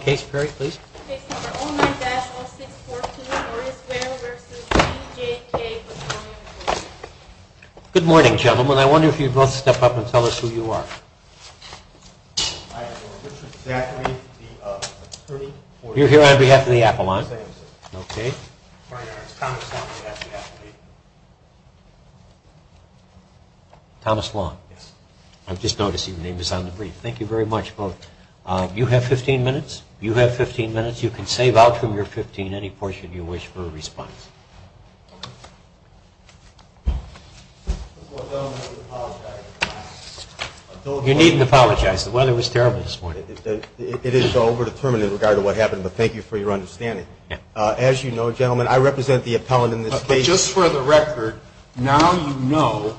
Case No. 09-0642, Horace Ware v. GJK Petroleum, Inc. Hi, I'm Richard Zachary, the attorney for GJK Petroleum, Inc. My name is Thomas Long, the attorney. You have 15 minutes. You can save out from your 15 any portion you wish for a response. You needn't apologize. The weather was terrible this morning. It is so over-determinant in regard to what happened, but thank you for your understanding. As you know, gentlemen, I represent the appellant in this case. Just for the record, now you know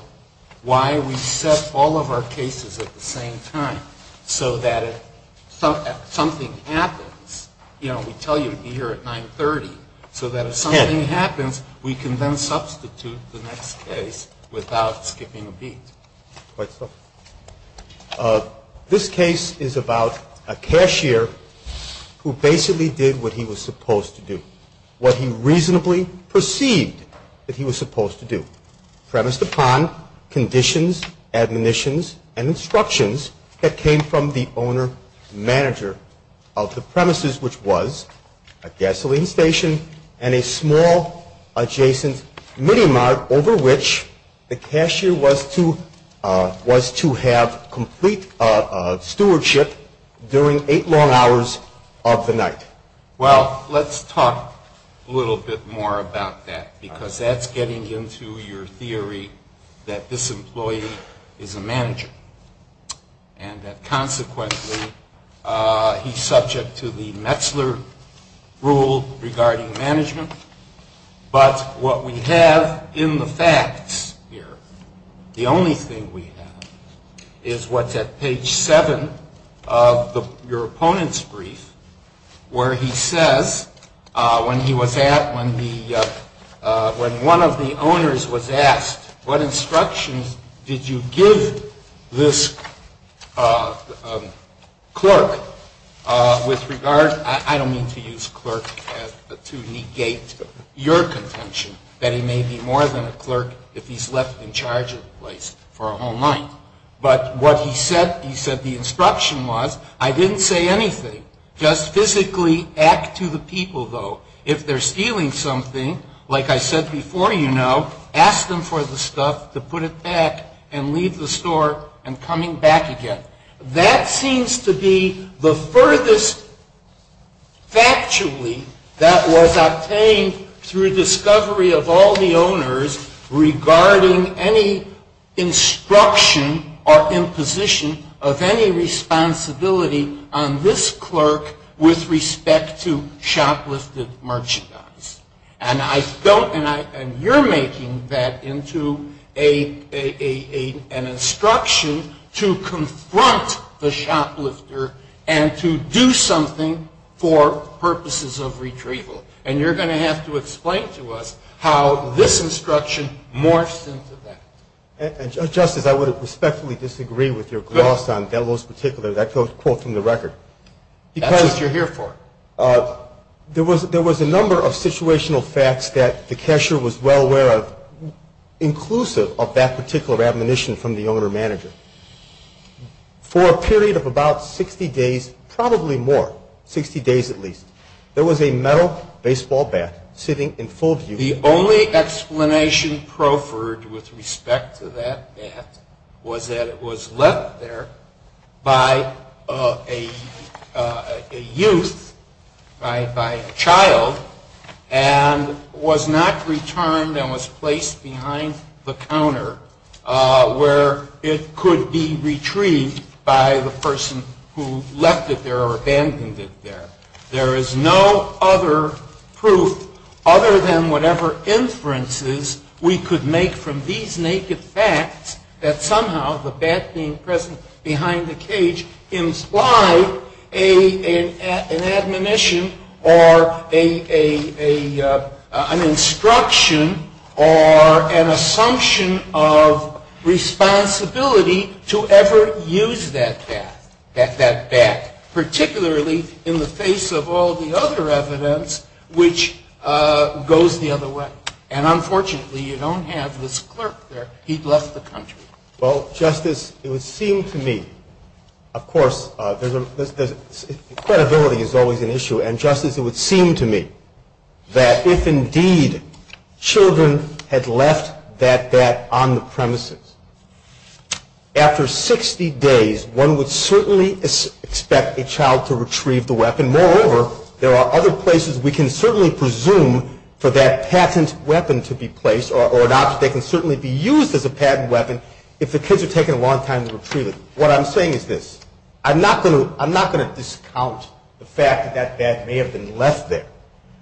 why we set all of our cases at the same time, so that if something happens, you know, we tell you to be here at 930, so that if something happens, we can then substitute the next case without skipping a beat. Quite so. This case is about a cashier who basically did what he was supposed to do, what he reasonably perceived that he was supposed to do, premised upon conditions, admonitions, and instructions that came from the owner-manager of the premises, which was a gasoline station and a small adjacent mini-mart over which the cashier was to have complete stewardship during eight long hours of the night. Well, let's talk a little bit more about that, because that's getting into your theory that this employee is a manager and that consequently he's subject to the Metzler rule regarding management. But what we have in the facts here, the only thing we have, is what's at page seven of your opponent's brief where he says, when one of the owners was asked, what instructions did you give this clerk with regard, I don't mean to use clerk to negate your contention that he may be more than a clerk if he's left in charge of the place for a whole night. But what he said, he said the instruction was, I didn't say anything, just physically act to the people, though. If they're stealing something, like I said before, you know, ask them for the stuff to put it back and leave the store and coming back again. That seems to be the furthest, factually, that was obtained through discovery of all the owners regarding any instruction or imposition of any responsibility on this clerk with respect to shoplifted merchandise. And I don't, and you're making that into an instruction to confront the shoplifter and to do something for purposes of retrieval. And you're going to have to explain to us how this instruction morphs into that. Justice, I would respectfully disagree with your gloss on Delo's particular, that quote from the record. That's what you're here for. There was a number of situational facts that the cashier was well aware of, inclusive of that particular admonition from the owner-manager. For a period of about 60 days, probably more, 60 days at least, there was a metal baseball bat sitting in full view. The only explanation proffered with respect to that bat was that it was left there by a youth, by a child, and was not returned and was placed behind the counter where it could be retrieved by the person who left it there or abandoned it there. There is no other proof other than whatever inferences we could make from these naked facts that somehow the bat being present behind the cage implied an admonition or an instruction or an assumption of responsibility to ever use that bat, particularly in the face of all the other evidence which goes the other way. And unfortunately, you don't have this clerk there. He'd left the country. Well, Justice, it would seem to me, of course, credibility is always an issue. And, Justice, it would seem to me that if indeed children had left that bat on the premises, after 60 days one would certainly expect a child to retrieve the weapon. Moreover, there are other places we can certainly presume for that patent weapon to be placed or an object that can certainly be used as a patent weapon if the kids are taking a long time to retrieve it. What I'm saying is this. I'm not going to discount the fact that that bat may have been left there.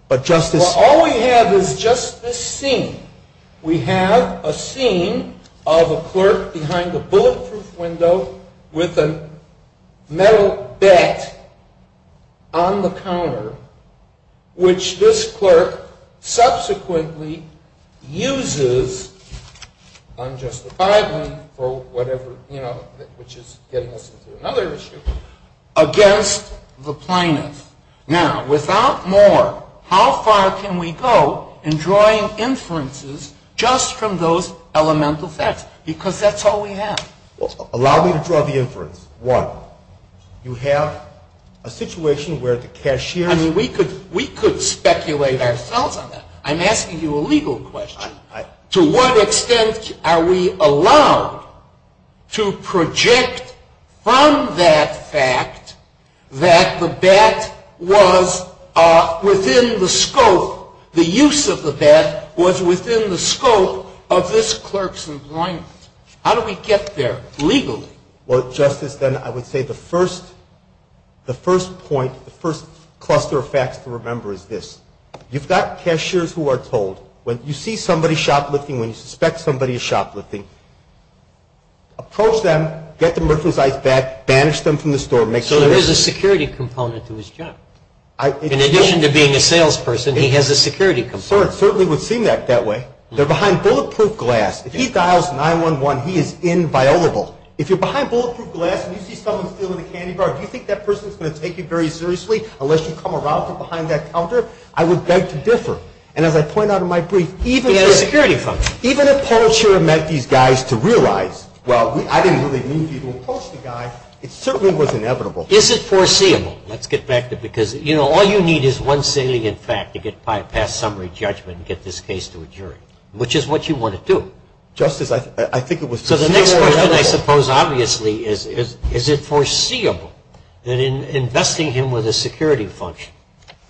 But, Justice— Well, all we have is just this scene. We have a scene of a clerk behind a bulletproof window with a metal bat on the counter, which this clerk subsequently uses on Justice Breyer for whatever, you know, which is getting us into another issue, against the plaintiff. Now, without more, how far can we go in drawing inferences just from those elemental facts? Because that's all we have. Well, allow me to draw the inference. You have a situation where the cashier— I mean, we could speculate ourselves on that. I'm asking you a legal question. To what extent are we allowed to project from that fact that the bat was within the scope, the use of the bat was within the scope of this clerk's employment? How do we get there legally? Well, Justice, then I would say the first point, the first cluster of facts to remember is this. You've got cashiers who are told, when you see somebody shoplifting, when you suspect somebody is shoplifting, approach them, get the merchandise back, banish them from the store, make sure— So there is a security component to his job. In addition to being a salesperson, he has a security component. It certainly would seem that way. They're behind bulletproof glass. If he dials 911, he is inviolable. If you're behind bulletproof glass and you see someone stealing a candy bar, do you think that person is going to take you very seriously unless you come around from behind that counter? I would beg to differ. And as I point out in my brief, even if— He had a security function. Even if Paul Scherer met these guys to realize, well, I didn't really need you to approach the guy, it certainly was inevitable. Is it foreseeable? Let's get back to because, you know, all you need is one salient fact to get past summary judgment and get this case to a jury, which is what you want to do. Justice, I think it was foreseeable. So the next question, I suppose, obviously is, is it foreseeable that in investing him with a security function,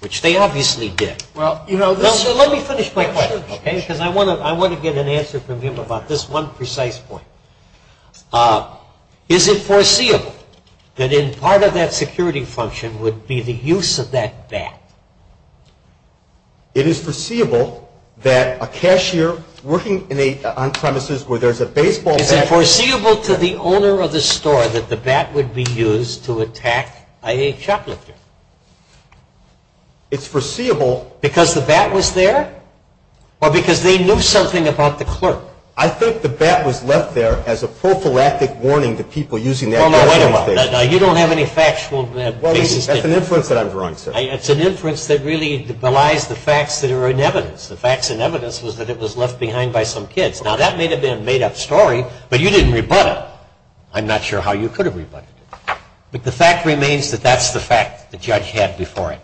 which they obviously did— Well, you know— Let me finish my question, okay, because I want to get an answer from him about this one precise point. Is it foreseeable that in part of that security function would be the use of that bat? It is foreseeable that a cashier working on premises where there's a baseball bat— Is it foreseeable to the owner of the store that the bat would be used to attack a shoplifter? It's foreseeable— Because the bat was there? Or because they knew something about the clerk? I think the bat was left there as a prophylactic warning to people using that— Well, no, wait a minute. You don't have any factual basis— That's an inference that I'm drawing, sir. It's an inference that really belies the facts that are in evidence. The facts in evidence was that it was left behind by some kids. Now, that may have been a made-up story, but you didn't rebut it. I'm not sure how you could have rebutted it. But the fact remains that that's the fact the judge had before it.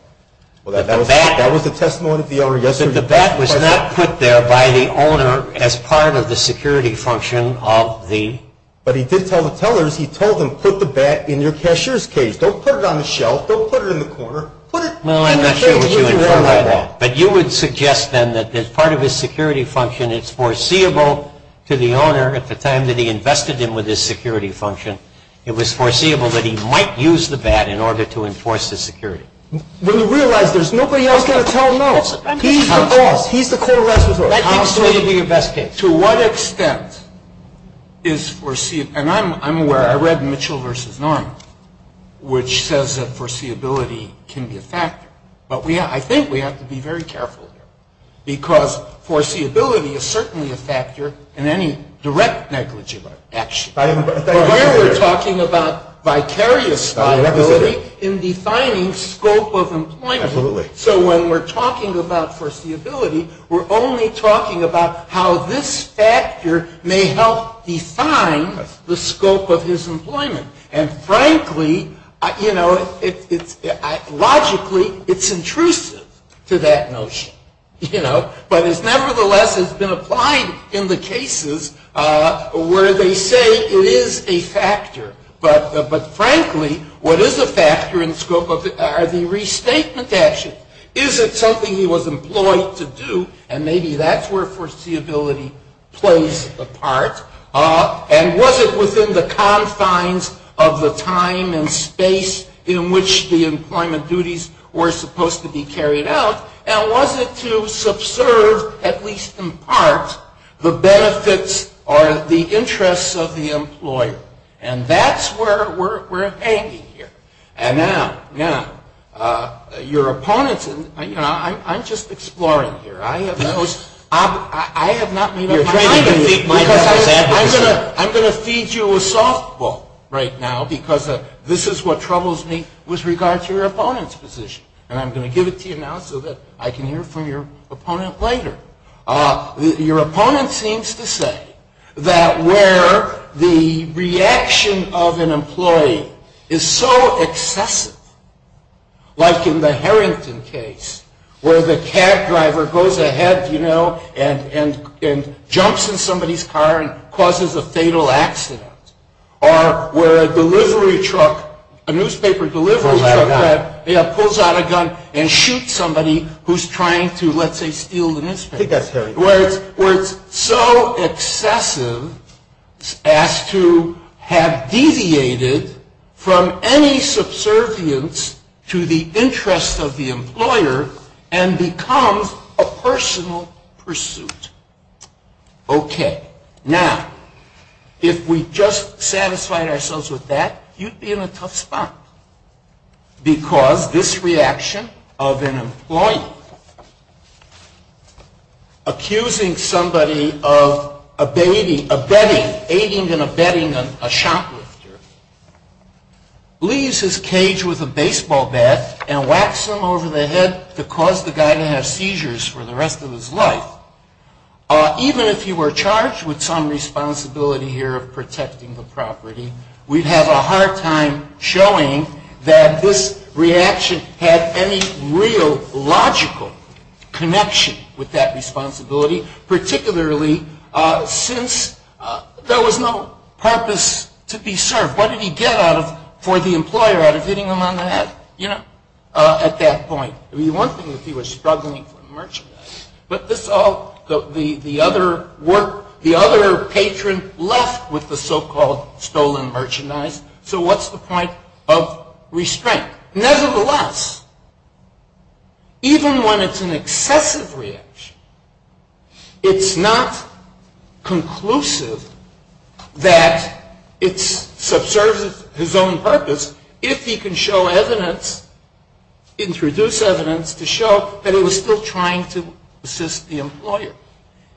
That the bat— That was the testimony of the owner yesterday— That the bat was not put there by the owner as part of the security function of the— But he did tell the tellers, he told them, put the bat in your cashier's cage. Don't put it on the shelf. Don't put it in the corner. Put it— Well, I'm not sure what you inferred by that. But you would suggest, then, that as part of his security function, it's foreseeable to the owner at the time that he invested him with his security function, it was foreseeable that he might use the bat in order to enforce his security. Well, you realize there's nobody else going to tell him no. He's the boss. He's the core resident. That seems to me to be your best case. To what extent is foreseeable— And I'm aware, I read Mitchell v. Norman, which says that foreseeability can be a factor. But I think we have to be very careful here. Because foreseeability is certainly a factor in any direct negligible action. But here we're talking about vicarious viability in defining scope of employment. Absolutely. So when we're talking about foreseeability, we're only talking about how this factor may help define the scope of his employment. And frankly, you know, logically, it's intrusive to that notion. You know? But it nevertheless has been applied in the cases where they say it is a factor. But frankly, what is a factor in scope of—are the restatement actions. Is it something he was employed to do? And maybe that's where foreseeability plays a part. And was it within the confines of the time and space in which the employment duties were supposed to be carried out? And was it to subserve, at least in part, the benefits or the interests of the employer? And that's where we're hanging here. And now, your opponents—I'm just exploring here. I have not made up my mind. I'm going to feed you a softball right now because this is what troubles me with regard to your opponent's position. And I'm going to give it to you now so that I can hear from your opponent later. Your opponent seems to say that where the reaction of an employee is so excessive, like in the Harrington case where the cab driver goes ahead, you know, and jumps in somebody's car and causes a fatal accident, or where a delivery truck—a newspaper delivery truck pulls out a gun and shoots somebody who's trying to, let's say, steal the newspaper. Where it's so excessive as to have deviated from any subservience to the interest of the employer and becomes a personal pursuit. Okay. Now, if we just satisfied ourselves with that, you'd be in a tough spot. Because this reaction of an employee accusing somebody of abetting, aiding and abetting a shoplifter, leaves his cage with a baseball bat and whacks him over the head to cause the guy to have seizures for the rest of his life. Even if you were charged with some responsibility here of protecting the property, we'd have a hard time showing that this reaction had any real logical connection with that responsibility, particularly since there was no purpose to be served. What did he get for the employer out of hitting him on the head, you know, at that point? I mean, the one thing that he was struggling for merchandise. But this all, the other work, the other patron left with the so-called stolen merchandise. So what's the point of restraint? Nevertheless, even when it's an excessive reaction, it's not conclusive that it subserves his own purpose if he can show evidence, introduce evidence to show that he was still trying to assist the employer.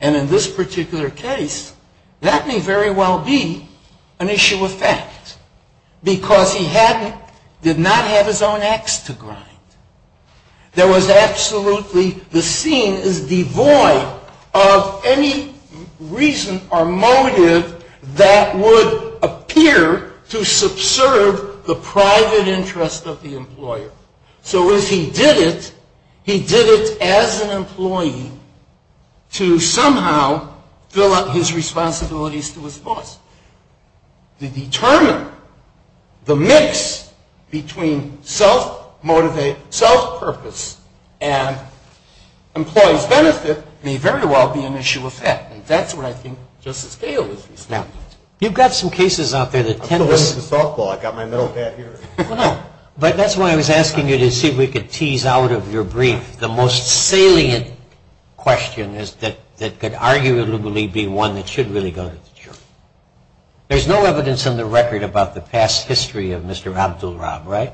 And in this particular case, that may very well be an issue of fact. Because he did not have his own ax to grind. There was absolutely, the scene is devoid of any reason or motive that would appear to subserve the private interest of the employer. So as he did it, he did it as an employee to somehow fill out his responsibilities to his boss. To determine the mix between self-motivate, self-purpose, and employee's benefit may very well be an issue of fact. And that's what I think Justice Cahill is reasoning about. You've got some cases out there that tend to... I'm still learning the softball. I've got my middle hat here. Well, no. But that's why I was asking you to see if we could tease out of your brief the most salient question that could arguably be one that should really go to the jury. There's no evidence on the record about the past history of Mr. Abdul-Rab, right?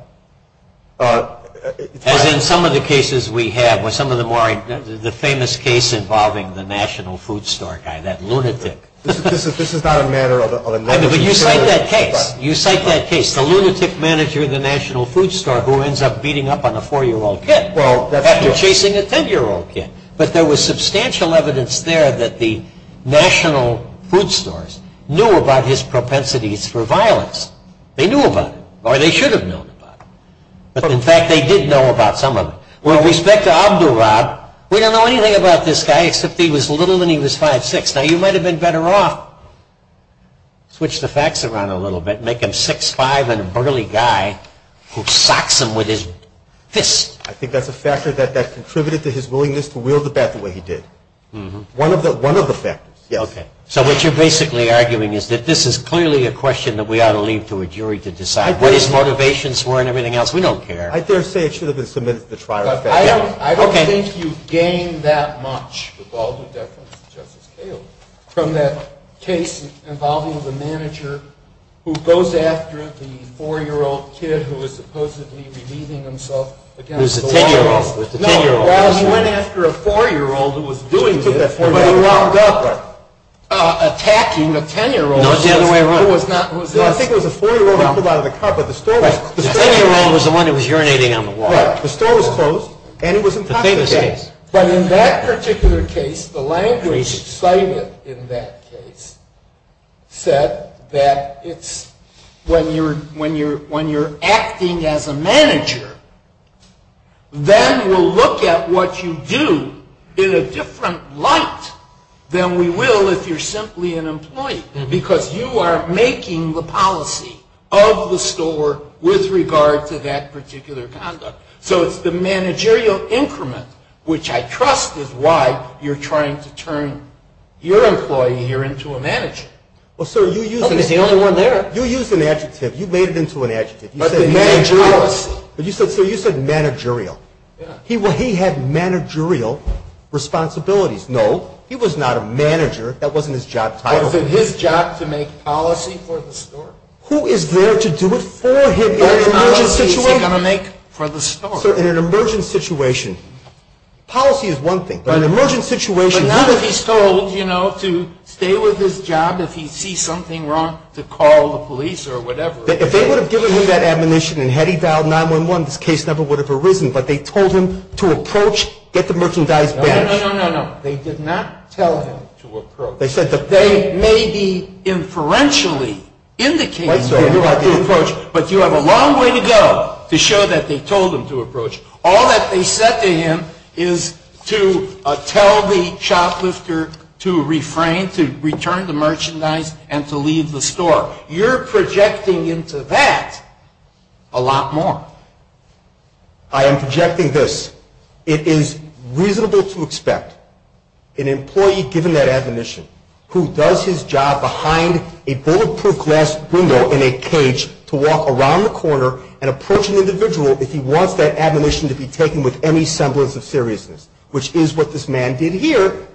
As in some of the cases we have, some of the more, the famous case involving the National Food Store guy, that lunatic. This is not a matter of... But you cite that case. You cite that case. The lunatic manager of the National Food Store who ends up beating up on a four-year-old kid after chasing a 10-year-old kid. But there was substantial evidence there that the National Food Stores knew about his propensities for violence. They knew about it, or they should have known about it. But in fact, they did know about some of it. With respect to Abdul-Rab, we don't know anything about this guy except he was little and he was 5'6". Now, you might have been better off to switch the facts around a little bit, make him 6'5", and a burly guy who socks him with his fist. I think that's a factor that contributed to his willingness to wield the bat the way he did. One of the factors. So what you're basically arguing is that this is clearly a question that we ought to leave to a jury to decide what his motivations were and everything else. We don't care. I dare say it should have been submitted to the trial. I don't think you gain that much, with all due deference to Justice Kagan, from that case involving the manager who goes after the four-year-old kid who is supposedly relieving himself against the law. It was the ten-year-old. No, he went after a four-year-old who was doing this, but he wound up attacking a ten-year-old. No, it's the other way around. I think it was a four-year-old who pulled out of the car, but the store was closed. The ten-year-old was the one who was urinating on the wall. Right, the store was closed, and it was intoxicated. The famous case. But in that particular case, the language cited in that case said that when you're acting as a manager, then we'll look at what you do in a different light than we will if you're simply an employee, because you are making the policy of the store with regard to that particular conduct. So it's the managerial increment, which I trust is why you're trying to turn your employee here into a manager. Well, sir, you used an adjective. You made it into an adjective. You said managerial. You said managerial. He had managerial responsibilities. No, he was not a manager. That wasn't his job title. Was it his job to make policy for the store? Who is there to do it for him in an emergency situation? Sir, in an emergent situation, policy is one thing. But in an emergent situation... But not if he's told, you know, to stay with his job if he sees something wrong, to call the police or whatever. If they would have given him that admonition, and had he dialed 911, this case never would have arisen. But they told him to approach, get the merchandise. No, no, no, no, no, no. They did not tell him to approach. They said that... They may be inferentially indicating that he ought to approach, but you have a long way to go to show that they told him to approach. All that they said to him is to tell the shoplifter to refrain, to return the merchandise, and to leave the store. You're projecting into that a lot more. I am projecting this. It is reasonable to expect an employee, given that admonition, who does his job behind a bulletproof glass window in a cage to walk around the corner and approach an individual if he wants that admonition to be taken with any semblance of seriousness, which is what this man did here,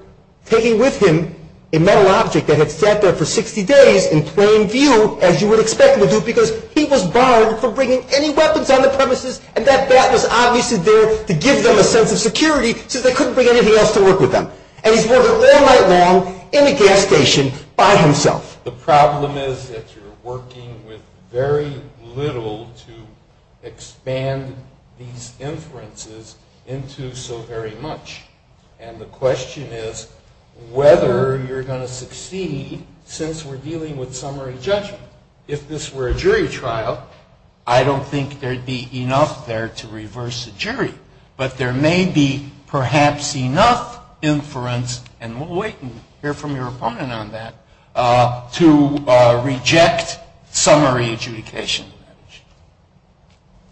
taking with him a metal object that had sat there for 60 days in plain view, as you would expect him to do, because he was barred from bringing any weapons on the premises, and that bat was obviously there to give them a sense of security, since they couldn't bring anything else to work with them. And he's working all night long in a gas station by himself. The problem is that you're working with very little to expand these inferences into so very much. And the question is whether you're going to succeed, since we're dealing with summary judgment. If this were a jury trial, I don't think there would be enough there to reverse the jury, but there may be perhaps enough inference, and we'll wait and hear from your opponent on that, to reject summary adjudication.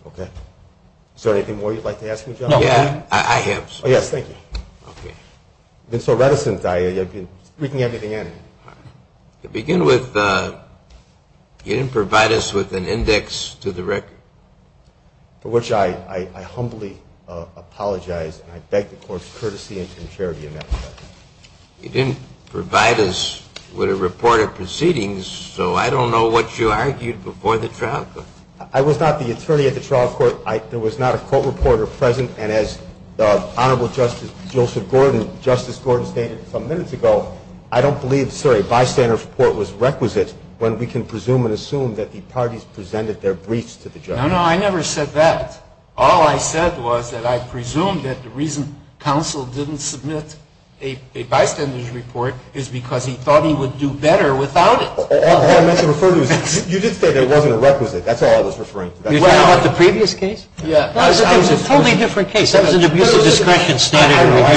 Okay. Is there anything more you'd like to ask me, John? No. I have. Yes, thank you. Okay. I've been so reticent, I've been speaking at the end. To begin with, you didn't provide us with an index to the record. For which I humbly apologize, and I beg the court's courtesy and contrary in that regard. You didn't provide us with a report of proceedings, so I don't know what you argued before the trial. I was not the attorney at the trial court. There was not a court reporter present, and as Honorable Justice Joseph Gordon, Justice Gordon stated some minutes ago, I don't believe, sir, a bystander's report was requisite when we can presume and assume that the parties presented their briefs to the judge. No, no, I never said that. All I said was that I presumed that the reason counsel didn't submit a bystander's report is because he thought he would do better without it. All I meant to refer to is you did say there wasn't a requisite. That's all I was referring to. You're talking about the previous case? Yeah. That was a totally different case. That was an abuse of discretion standard review. Sometimes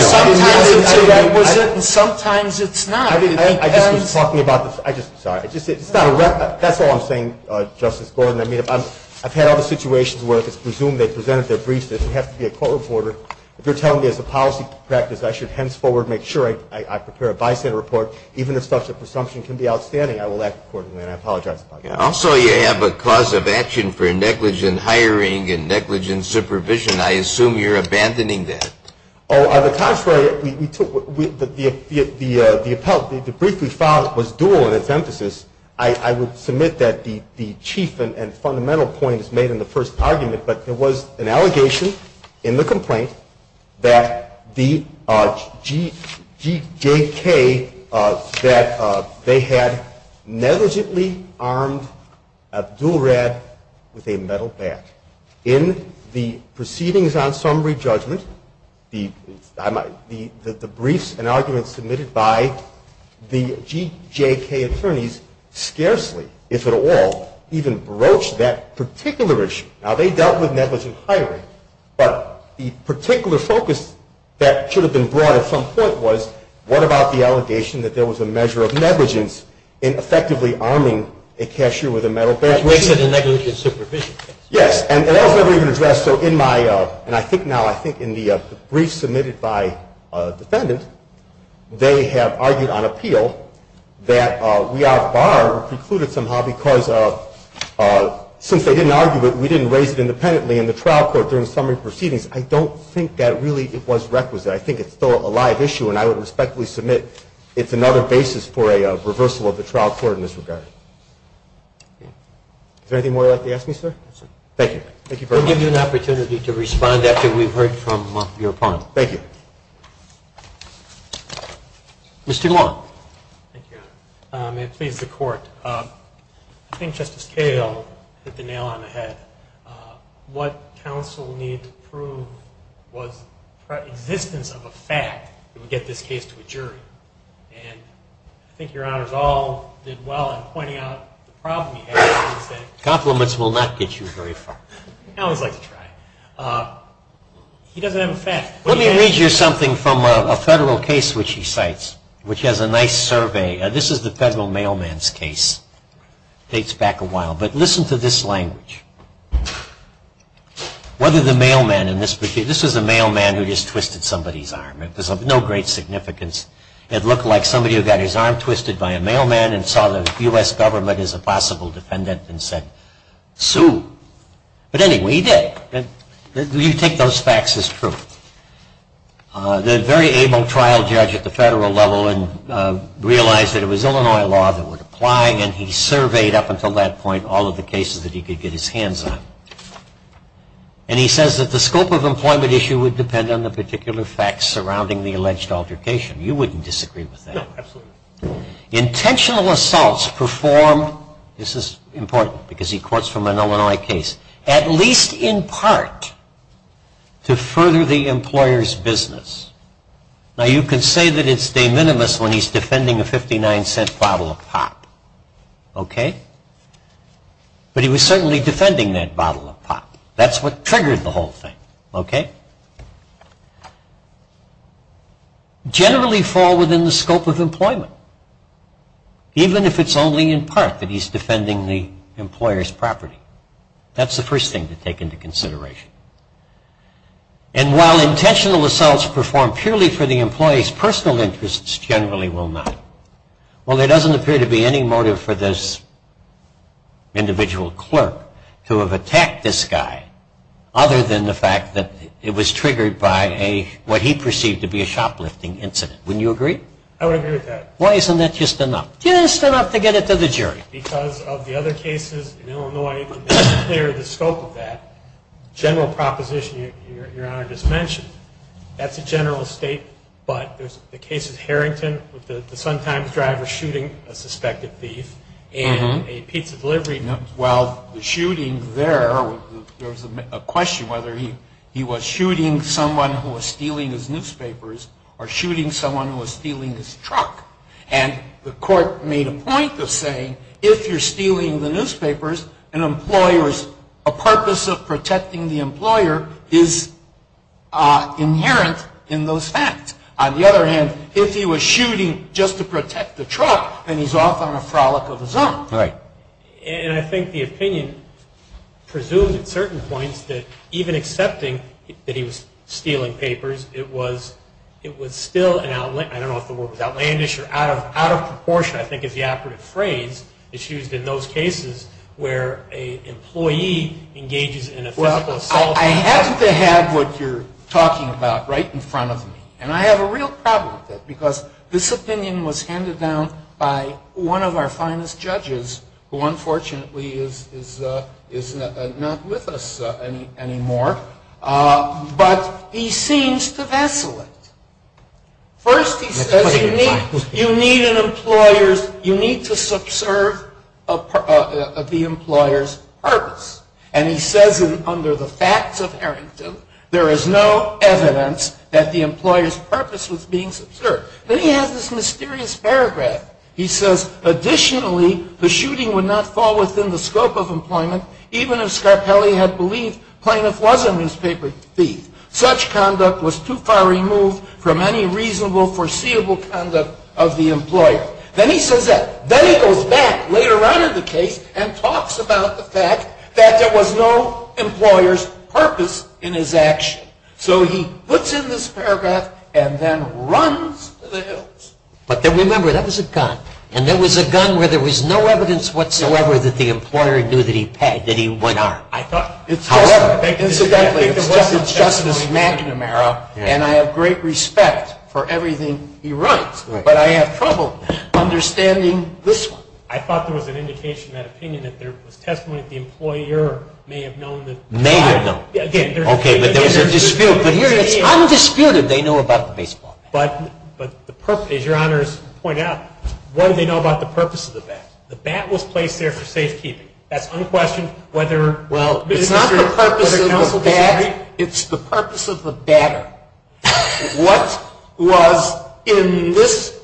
it's a requisite and sometimes it's not. I just was talking about this. Sorry. That's all I'm saying, Justice Gordon. I mean, I've had other situations where if it's presumed they presented their briefs, it doesn't have to be a court reporter. If you're telling me as a policy practice I should henceforward make sure I prepare a bystander report, even if such a presumption can be outstanding, I will act accordingly, and I apologize. Also, you have a cause of action for negligent hiring and negligent supervision. I assume you're abandoning that. On the contrary, the brief we filed was dual in its emphasis. I would submit that the chief and fundamental point is made in the first argument, but there was an allegation in the complaint that the GJK, that they had negligently armed Abdulrad with a metal bat. In the proceedings on summary judgment, the briefs and arguments submitted by the GJK attorneys scarcely, if at all, even broached that particular issue. Now, they dealt with negligent hiring, but the particular focus that should have been brought at some point was what about the allegation that there was a measure of negligence in effectively arming a cashier with a metal bat? That makes it a negligent supervision case. Yes, and that was never even addressed. So in my, and I think now, I think in the brief submitted by a defendant, they have argued on appeal that we are barred, precluded somehow, because since they didn't argue it, we didn't raise it independently in the trial court during summary proceedings. I don't think that really it was requisite. I think it's still a live issue, and I would respectfully submit it's another basis for a reversal of the trial court in this regard. Is there anything more you'd like to ask me, sir? No, sir. Thank you. Thank you very much. We'll give you an opportunity to respond after we've heard from your opponent. Thank you. Mr. Long. Thank you, Your Honor. May it please the Court. I think Justice Cahill hit the nail on the head. What counsel needed to prove was the existence of a fact that would get this case to a jury, and I think Your Honor's all did well in pointing out the problem you had. Compliments will not get you very far. I always like to try. He doesn't have a fact. Let me read you something from a federal case which he cites, which has a nice survey. This is the federal mailman's case. It dates back a while, but listen to this language. Whether the mailman in this, this is a mailman who just twisted somebody's arm. There's no great significance. It looked like somebody who got his arm twisted by a mailman and saw the U.S. government as a possible defendant and said, sue. But anyway, he did. You take those facts as proof. The very able trial judge at the federal level realized that it was Illinois law that would apply, and he surveyed up until that point all of the cases that he could get his hands on. And he says that the scope of employment issue would depend on the particular facts surrounding the alleged altercation. You wouldn't disagree with that. No, absolutely not. Intentional assaults performed, this is important because he courts from an Illinois case, at least in part to further the employer's business. Now, you can say that it's de minimis when he's defending a 59-cent bottle of pop, okay? But he was certainly defending that bottle of pop. That's what triggered the whole thing, okay? Generally fall within the scope of employment, even if it's only in part that he's defending the employer's property. That's the first thing to take into consideration. And while intentional assaults performed purely for the employee's personal interests generally will not. Well, there doesn't appear to be any motive for this individual clerk to have attacked this guy other than the fact that it was triggered by what he perceived to be a shoplifting incident. Wouldn't you agree? I would agree with that. Well, isn't that just enough? Just enough to get it to the jury. Because of the other cases in Illinois, the scope of that general proposition your Honor just mentioned, that's a general state, but the case of Harrington with the Sun Times driver shooting a suspected thief and a pizza delivery number. Well, the shooting there, there was a question whether he was shooting someone who was stealing his newspapers or shooting someone who was stealing his truck. And the court made a point of saying if you're stealing the newspapers, a purpose of protecting the employer is inherent in those facts. On the other hand, if he was shooting just to protect the truck, then he's off on a frolic of his own. Right. And I think the opinion presumes at certain points that even accepting that he was stealing papers, it was still an outlandish, I don't know if the word was outlandish or out of proportion, which I think is the operative phrase that's used in those cases where an employee engages in a physical assault. Well, I happen to have what you're talking about right in front of me. And I have a real problem with that because this opinion was handed down by one of our finest judges, who unfortunately is not with us anymore. But he seems to vessel it. First, he says you need to subserve the employer's purpose. And he says under the facts of Harrington, there is no evidence that the employer's purpose was being subserved. Then he has this mysterious paragraph. He says, additionally, the shooting would not fall within the scope of employment, even if Scarpelli had believed Plaintiff was a newspaper thief. Such conduct was too far removed from any reasonable, foreseeable conduct of the employer. Then he says that. Then he goes back later on in the case and talks about the fact that there was no employer's purpose in his action. So he puts in this paragraph and then runs to the hills. But then remember, that was a gun. And that was a gun where there was no evidence whatsoever that the employer knew that he paid, that he went on. However, incidentally, it's Justice McNamara. And I have great respect for everything he writes. But I have trouble understanding this one. I thought there was an indication in that opinion that there was testimony that the employer may have known that. May have known. Okay, but there was a dispute. But here it's undisputed they know about the baseball bat. But the purpose, as your honors point out, what do they know about the purpose of the bat? The bat was placed there for safekeeping. That's unquestioned. Well, it's not the purpose of the bat. It's the purpose of the batter. What was in this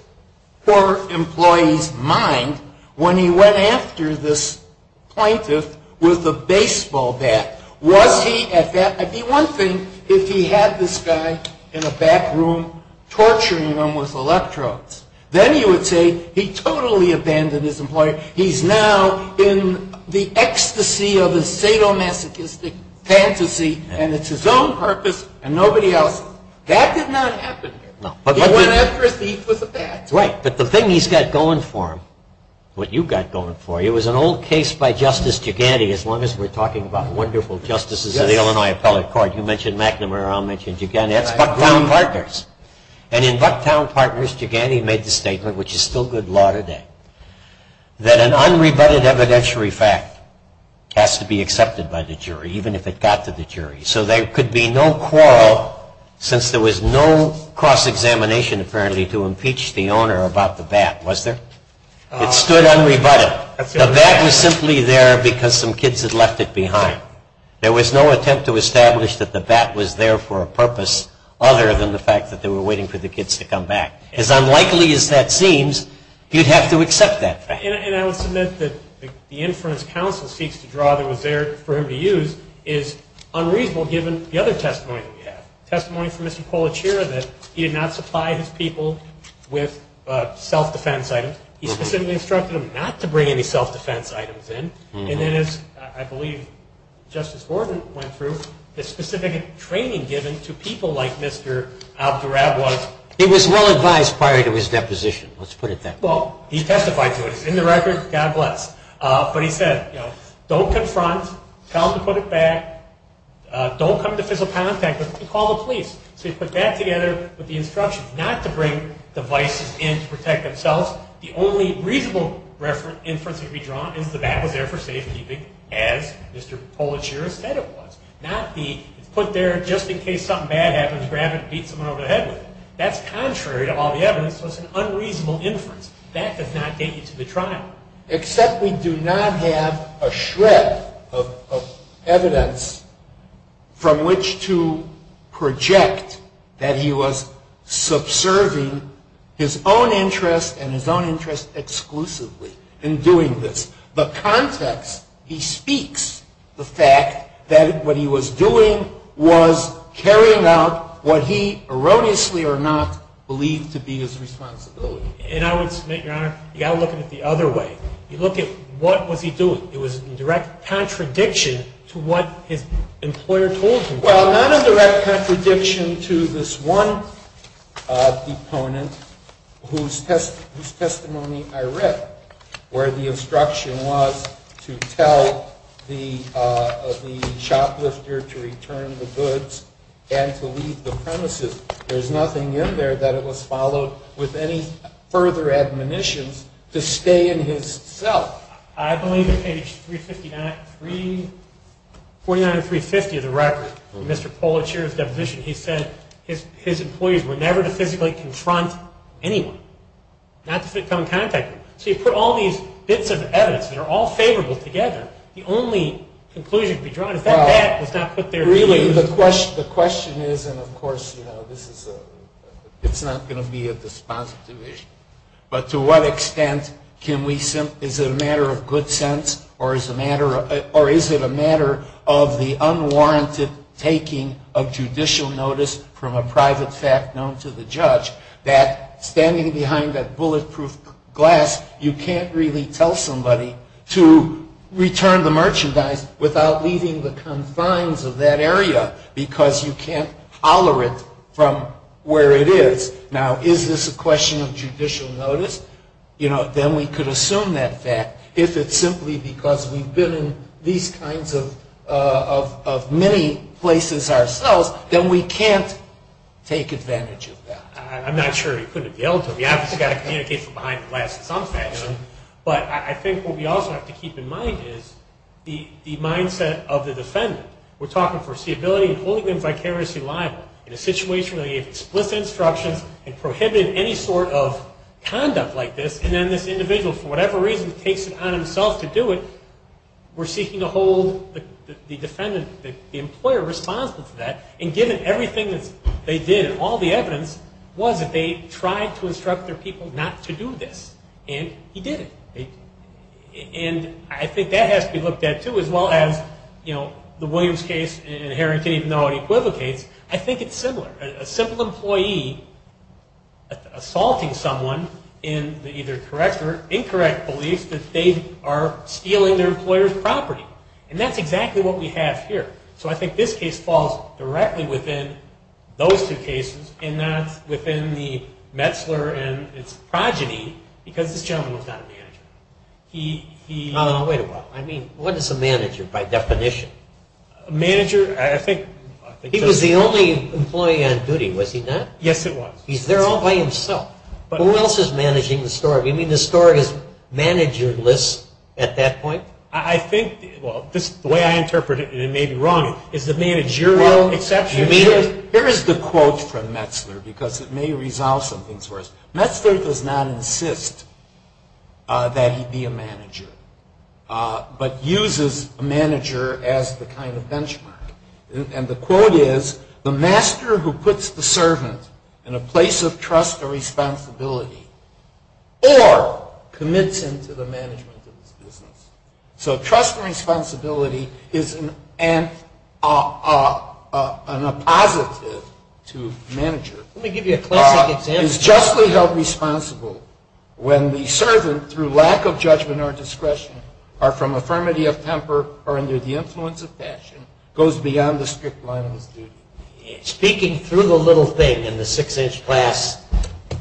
poor employee's mind when he went after this plaintiff with a baseball bat? Was he at that? I mean, one thing, if he had this guy in a back room torturing him with electrodes, then you would say he totally abandoned his employer. He's now in the ecstasy of a sadomasochistic fantasy, and it's his own purpose and nobody else's. That did not happen here. He went after a thief with a bat. Right, but the thing he's got going for him, what you've got going for you, is an old case by Justice Giganti, as long as we're talking about wonderful justices of the Illinois Appellate Court. You mentioned McNamara. I'll mention Giganti. That's Bucktown Partners. And in Bucktown Partners, Giganti made the statement, which is still good law today, that an unrebutted evidentiary fact has to be accepted by the jury, even if it got to the jury. So there could be no quarrel, since there was no cross-examination, apparently, to impeach the owner about the bat, was there? It stood unrebutted. The bat was simply there because some kids had left it behind. There was no attempt to establish that the bat was there for a purpose other than the fact that they were waiting for the kids to come back. As unlikely as that seems, you'd have to accept that fact. And I would submit that the inference counsel seeks to draw that was there for him to use is unreasonable, given the other testimony that we have, testimony from Mr. Polichiro that he did not supply his people with self-defense items. He specifically instructed them not to bring any self-defense items in. And then, as I believe Justice Horton went through, the specific training given to people like Mr. Abdurab was... It was well-advised prior to his deposition. Let's put it that way. Well, he testified to it. It's in the record. God bless. But he said, you know, don't confront. Tell them to put it back. Don't come into physical contact with it. Call the police. So he put that together with the instructions not to bring devices in to protect themselves. The only reasonable inference that we draw is the bat was there for safekeeping, as Mr. Polichiro said it was. Not the, it's put there just in case something bad happens, grab it and beat someone over the head with it. That's contrary to all the evidence, so it's an unreasonable inference. That does not get you to the trial. Except we do not have a shred of evidence from which to project that he was subserving his own interest and his own interest exclusively in doing this. The context, he speaks the fact that what he was doing was carrying out what he erroneously or not believed to be his responsibility. And I would submit, Your Honor, you've got to look at it the other way. You look at what was he doing. It was a direct contradiction to what his employer told him. Well, not a direct contradiction to this one deponent whose testimony I read where the instruction was to tell the shoplifter to return the goods and to leave the premises. There's nothing in there that it was followed with any further admonitions to stay in his cell. I believe in page 359, 3, 49 and 350 of the record, Mr. Polichiro's deposition, he said his employees were never to physically confront anyone, not to come in contact with them. So you put all these bits of evidence that are all favorable together, the only conclusion to be drawn is that bat was not put there to be used. I mean, the question is, and of course, you know, this is a, it's not going to be a dispositive issue. But to what extent can we, is it a matter of good sense or is it a matter of the unwarranted taking of judicial notice from a private fact known to the judge that standing behind that bulletproof glass, you can't really tell somebody to return the merchandise without leaving the confines of that area because you can't holler it from where it is. Now, is this a question of judicial notice? You know, then we could assume that fact. If it's simply because we've been in these kinds of many places ourselves, then we can't take advantage of that. I'm not sure you couldn't have yelled to him. You obviously got to communicate from behind the glass in some fashion. But I think what we also have to keep in mind is the mindset of the defendant. We're talking foreseeability and holding them vicariously liable in a situation where they gave explicit instructions and prohibited any sort of conduct like this. And then this individual, for whatever reason, takes it on himself to do it. We're seeking to hold the defendant, the employer, responsible for that. And given everything that they did and all the evidence was that they tried to instruct their people not to do this. And he didn't. And I think that has to be looked at, too, as well as the Williams case in Harrington, even though it equivocates. I think it's similar. A simple employee assaulting someone in the either correct or incorrect belief that they are stealing their employer's property. And that's exactly what we have here. So I think this case falls directly within those two cases and not within the Metzler and its progeny because this gentleman was not a manager. He... Wait a minute. I mean, what is a manager by definition? A manager, I think... He was the only employee on duty, was he not? Yes, he was. He's there all by himself. Who else is managing the store? Do you mean the store is managerless at that point? I think... Well, the way I interpret it, and it may be wrong, is the managerial exception... Here is the quote from Metzler because it may resolve some things for us. Metzler does not insist that he be a manager but uses a manager as the kind of benchmark. And the quote is, the master who puts the servant in a place of trust and responsibility or commits him to the management of his business. So trust and responsibility is an appositive to manager. Let me give you a classic example. Is justly held responsible when the servant, through lack of judgment or discretion, or from a firmity of temper or under the influence of passion, goes beyond the strict line of his duty. Speaking through the little thing in the six-inch glass,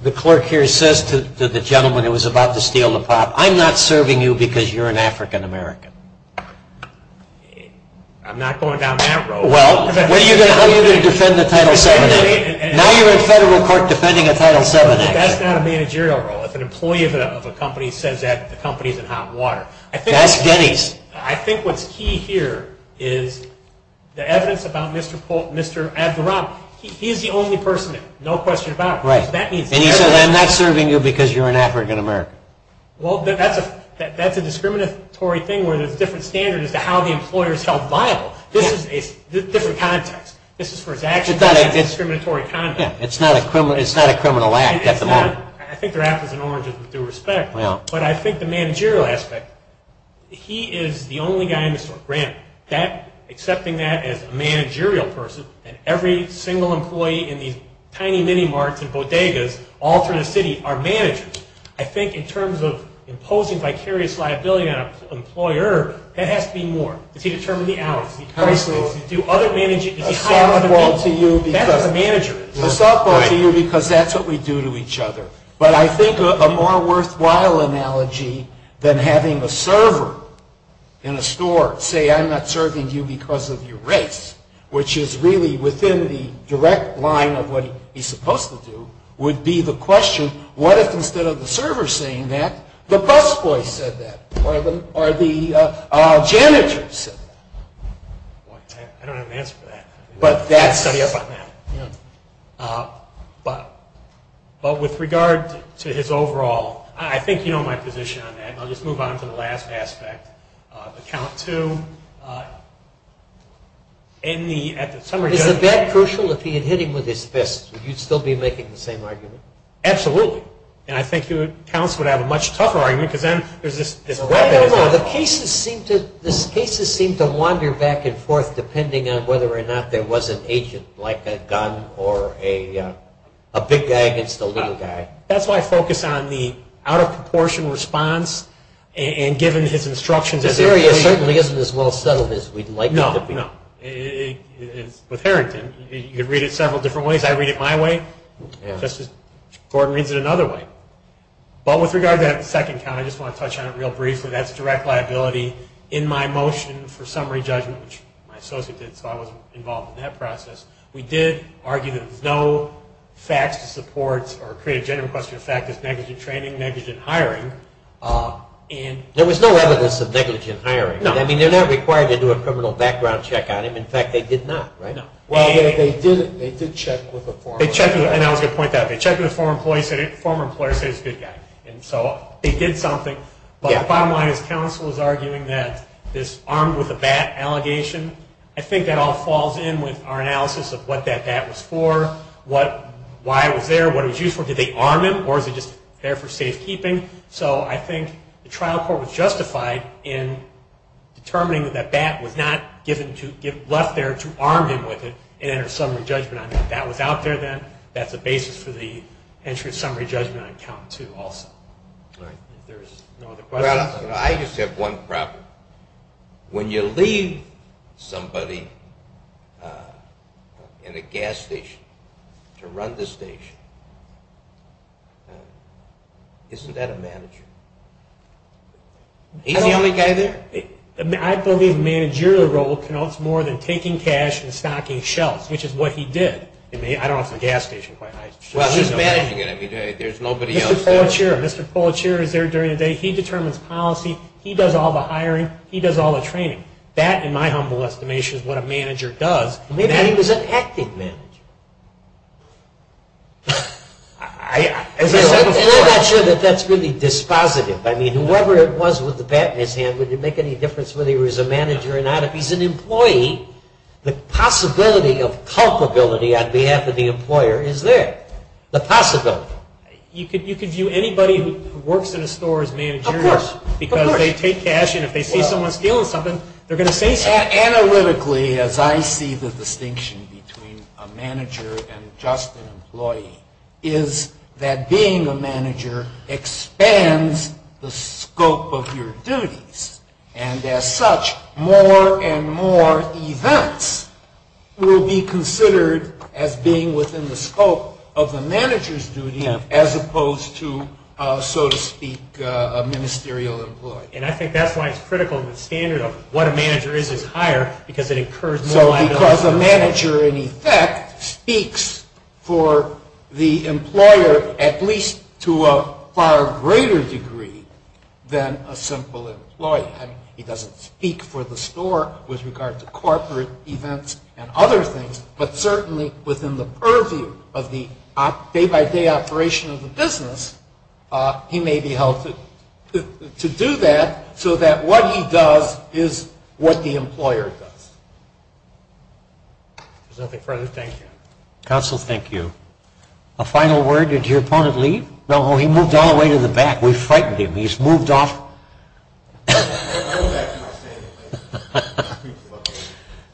the clerk here says to the gentleman who was about to steal the pot, I'm not serving you because you're an African-American. I'm not going down that road. Well, what are you going to do to defend the Title VII Act? Now you're in federal court defending a Title VII Act. That's not a managerial role. If an employee of a company says that the company is in hot water. That's Denny's. I think what's key here is the evidence about Mr. Abderrahman. He's the only person there, no question about it. Right. And he says, I'm not serving you because you're an African-American. Well, that's a discriminatory thing where there's a different standard as to how the employer is held liable. This is a different context. This is for his actions. It's a discriminatory context. It's not a criminal act at the moment. I think they're apples and oranges with due respect. Yeah. But I think the managerial aspect, he is the only guy in the store. Grant, accepting that as a managerial person, and every single employee in these tiny mini-marts and bodegas all through the city are managers. I think in terms of imposing vicarious liability on an employer, that has to be more. Does he determine the hours? Does he do other managing? A softball to you because that's what we do to each other. But I think a more worthwhile analogy than having a server in a store say, I'm not serving you because of your race, which is really within the direct line of what he's supposed to do, would be the question, what if instead of the server saying that, the busboy said that? Or the janitor said that? I don't have an answer for that. But that's... I can study up on that. But with regard to his overall, I think you know my position on that, and I'll just move on to the last aspect. The count too. In the... Is the bat crucial if he had hit him with his fist? Would you still be making the same argument? Absolutely. And I think counts would have a much tougher argument because then there's this... The cases seem to wander back and forth depending on whether or not there was an agent like a gun or a big guy against a little guy. That's why I focus on the out-of-proportion response and given his instructions... This area certainly isn't as well settled as we'd like it to be. No, no. With Harrington, you could read it several different ways. I read it my way, just as Gordon reads it another way. But with regard to that second count, I just want to touch on it real briefly. That's direct liability in my motion for summary judgment, which my associate did, so I was involved in that process. We did argue that there was no facts to support or create a general question of fact as negligent training, negligent hiring. There was no evidence of negligent hiring. No. I mean, they're not required to do a criminal background check on him. In fact, they did not, right? No. Well, they did check with a former... And I was going to point that out. They checked with a former employer and said he was a good guy. And so they did something. But the bottom line is counsel is arguing that this armed with a bat allegation, I think that all falls in with our analysis of what that bat was for, why it was there, what it was used for. Did they arm him, or is it just there for safekeeping? So I think the trial court was justified in determining that that bat was not left there to arm him with it and enter summary judgment on him. If that was out there then, that's a basis for the entry of summary judgment on Count 2 also. All right. If there's no other questions... Well, I just have one problem. When you leave somebody in a gas station to run this station, isn't that a manager? He's the only guy there? I believe a managerial role connotes more than taking cash and stocking shelves, which is what he did. I mean, I don't know if the gas station quite... Well, he's managing it. I mean, there's nobody else there. Mr. Poitier. Mr. Poitier is there during the day. He determines policy. He does all the hiring. He does all the training. That, in my humble estimation, is what a manager does. Maybe he was an acting manager. As I said before... I'm not sure that that's really dispositive. I mean, whoever it was with the bat in his hand, would it make any difference whether he was a manager or not? If he's an employee, the possibility of culpability on behalf of the employer is there. The possibility. You could view anybody who works in a store as managerial. Of course. Because they take cash, and if they see someone stealing something, they're going to say something. Analytically, as I see the distinction between a manager and just an employee, is that being a manager expands the scope of your duties. And as such, more and more events will be considered as being within the scope of the manager's duty as opposed to, so to speak, a ministerial employee. And I think that's why it's critical the standard of what a manager is, is higher, because it incurs more... So because a manager, in effect, speaks for the employer, at least to a far greater degree than a simple employee. He doesn't speak for the store with regard to corporate events and other things, but certainly within the purview of the day-by-day operation of the business, he may be held to do that so that what he does is what the employer does. If there's nothing further, thank you. Counsel, thank you. A final word. Did your opponent leave? No, he moved all the way to the back. We frightened him. He's moved off.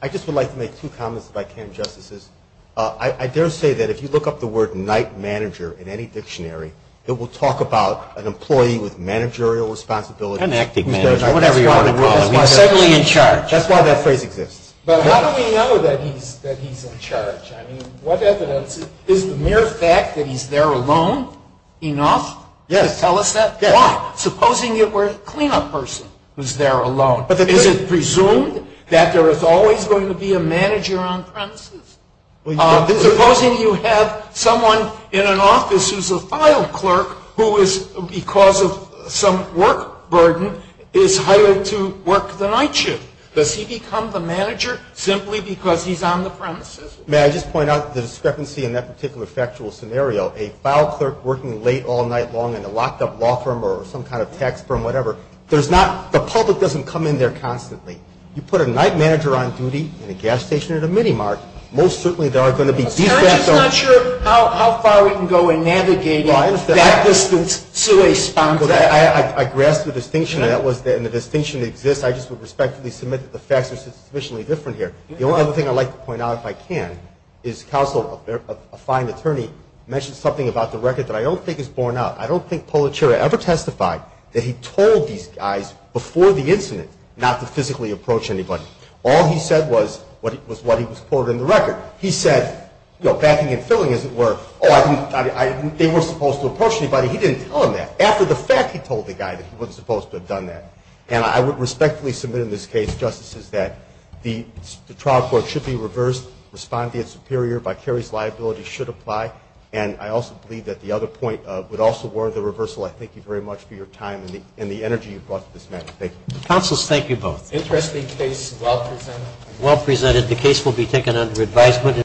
I just would like to make two comments, if I can, Justices. I dare say that if you look up the word night manager in any dictionary, it will talk about an employee with managerial responsibilities. An acting manager, whatever you want to call him. He's certainly in charge. That's why that phrase exists. But how do we know that he's in charge? I mean, what evidence? Is the mere fact that he's there alone enough to tell us that? Yes. Now, supposing it were a cleanup person who's there alone. Is it presumed that there is always going to be a manager on premises? Supposing you have someone in an office who's a file clerk who is, because of some work burden, is hired to work the night shift. Does he become the manager simply because he's on the premises? May I just point out the discrepancy in that particular factual scenario? A file clerk working late all night long in a locked-up law firm or some kind of tax firm, whatever. The public doesn't come in there constantly. You put a night manager on duty in a gas station at a minimart, most certainly there are going to be defects. I'm just not sure how far we can go in navigating that distance to a sponsor. I grasp the distinction, and the distinction exists. I just would respectfully submit that the facts are sufficiently different here. The only other thing I'd like to point out, if I can, is counsel, a fine attorney, mentioned something about the record that I don't think is borne out. I don't think Pulitzer ever testified that he told these guys before the incident not to physically approach anybody. All he said was what he was quoted in the record. He said, backing and filling, as it were, they weren't supposed to approach anybody. He didn't tell them that. After the fact, he told the guy that he wasn't supposed to have done that. And I would respectfully submit in this case, Justices, that the trial court should be reversed, respond to the superior. Vicarious liability should apply. And I also believe that the other point would also warrant the reversal. I thank you very much for your time and the energy you've brought to this matter. Thank you. Counsel, thank you both. Interesting case, well presented. Well presented. The case will be taken under advisement.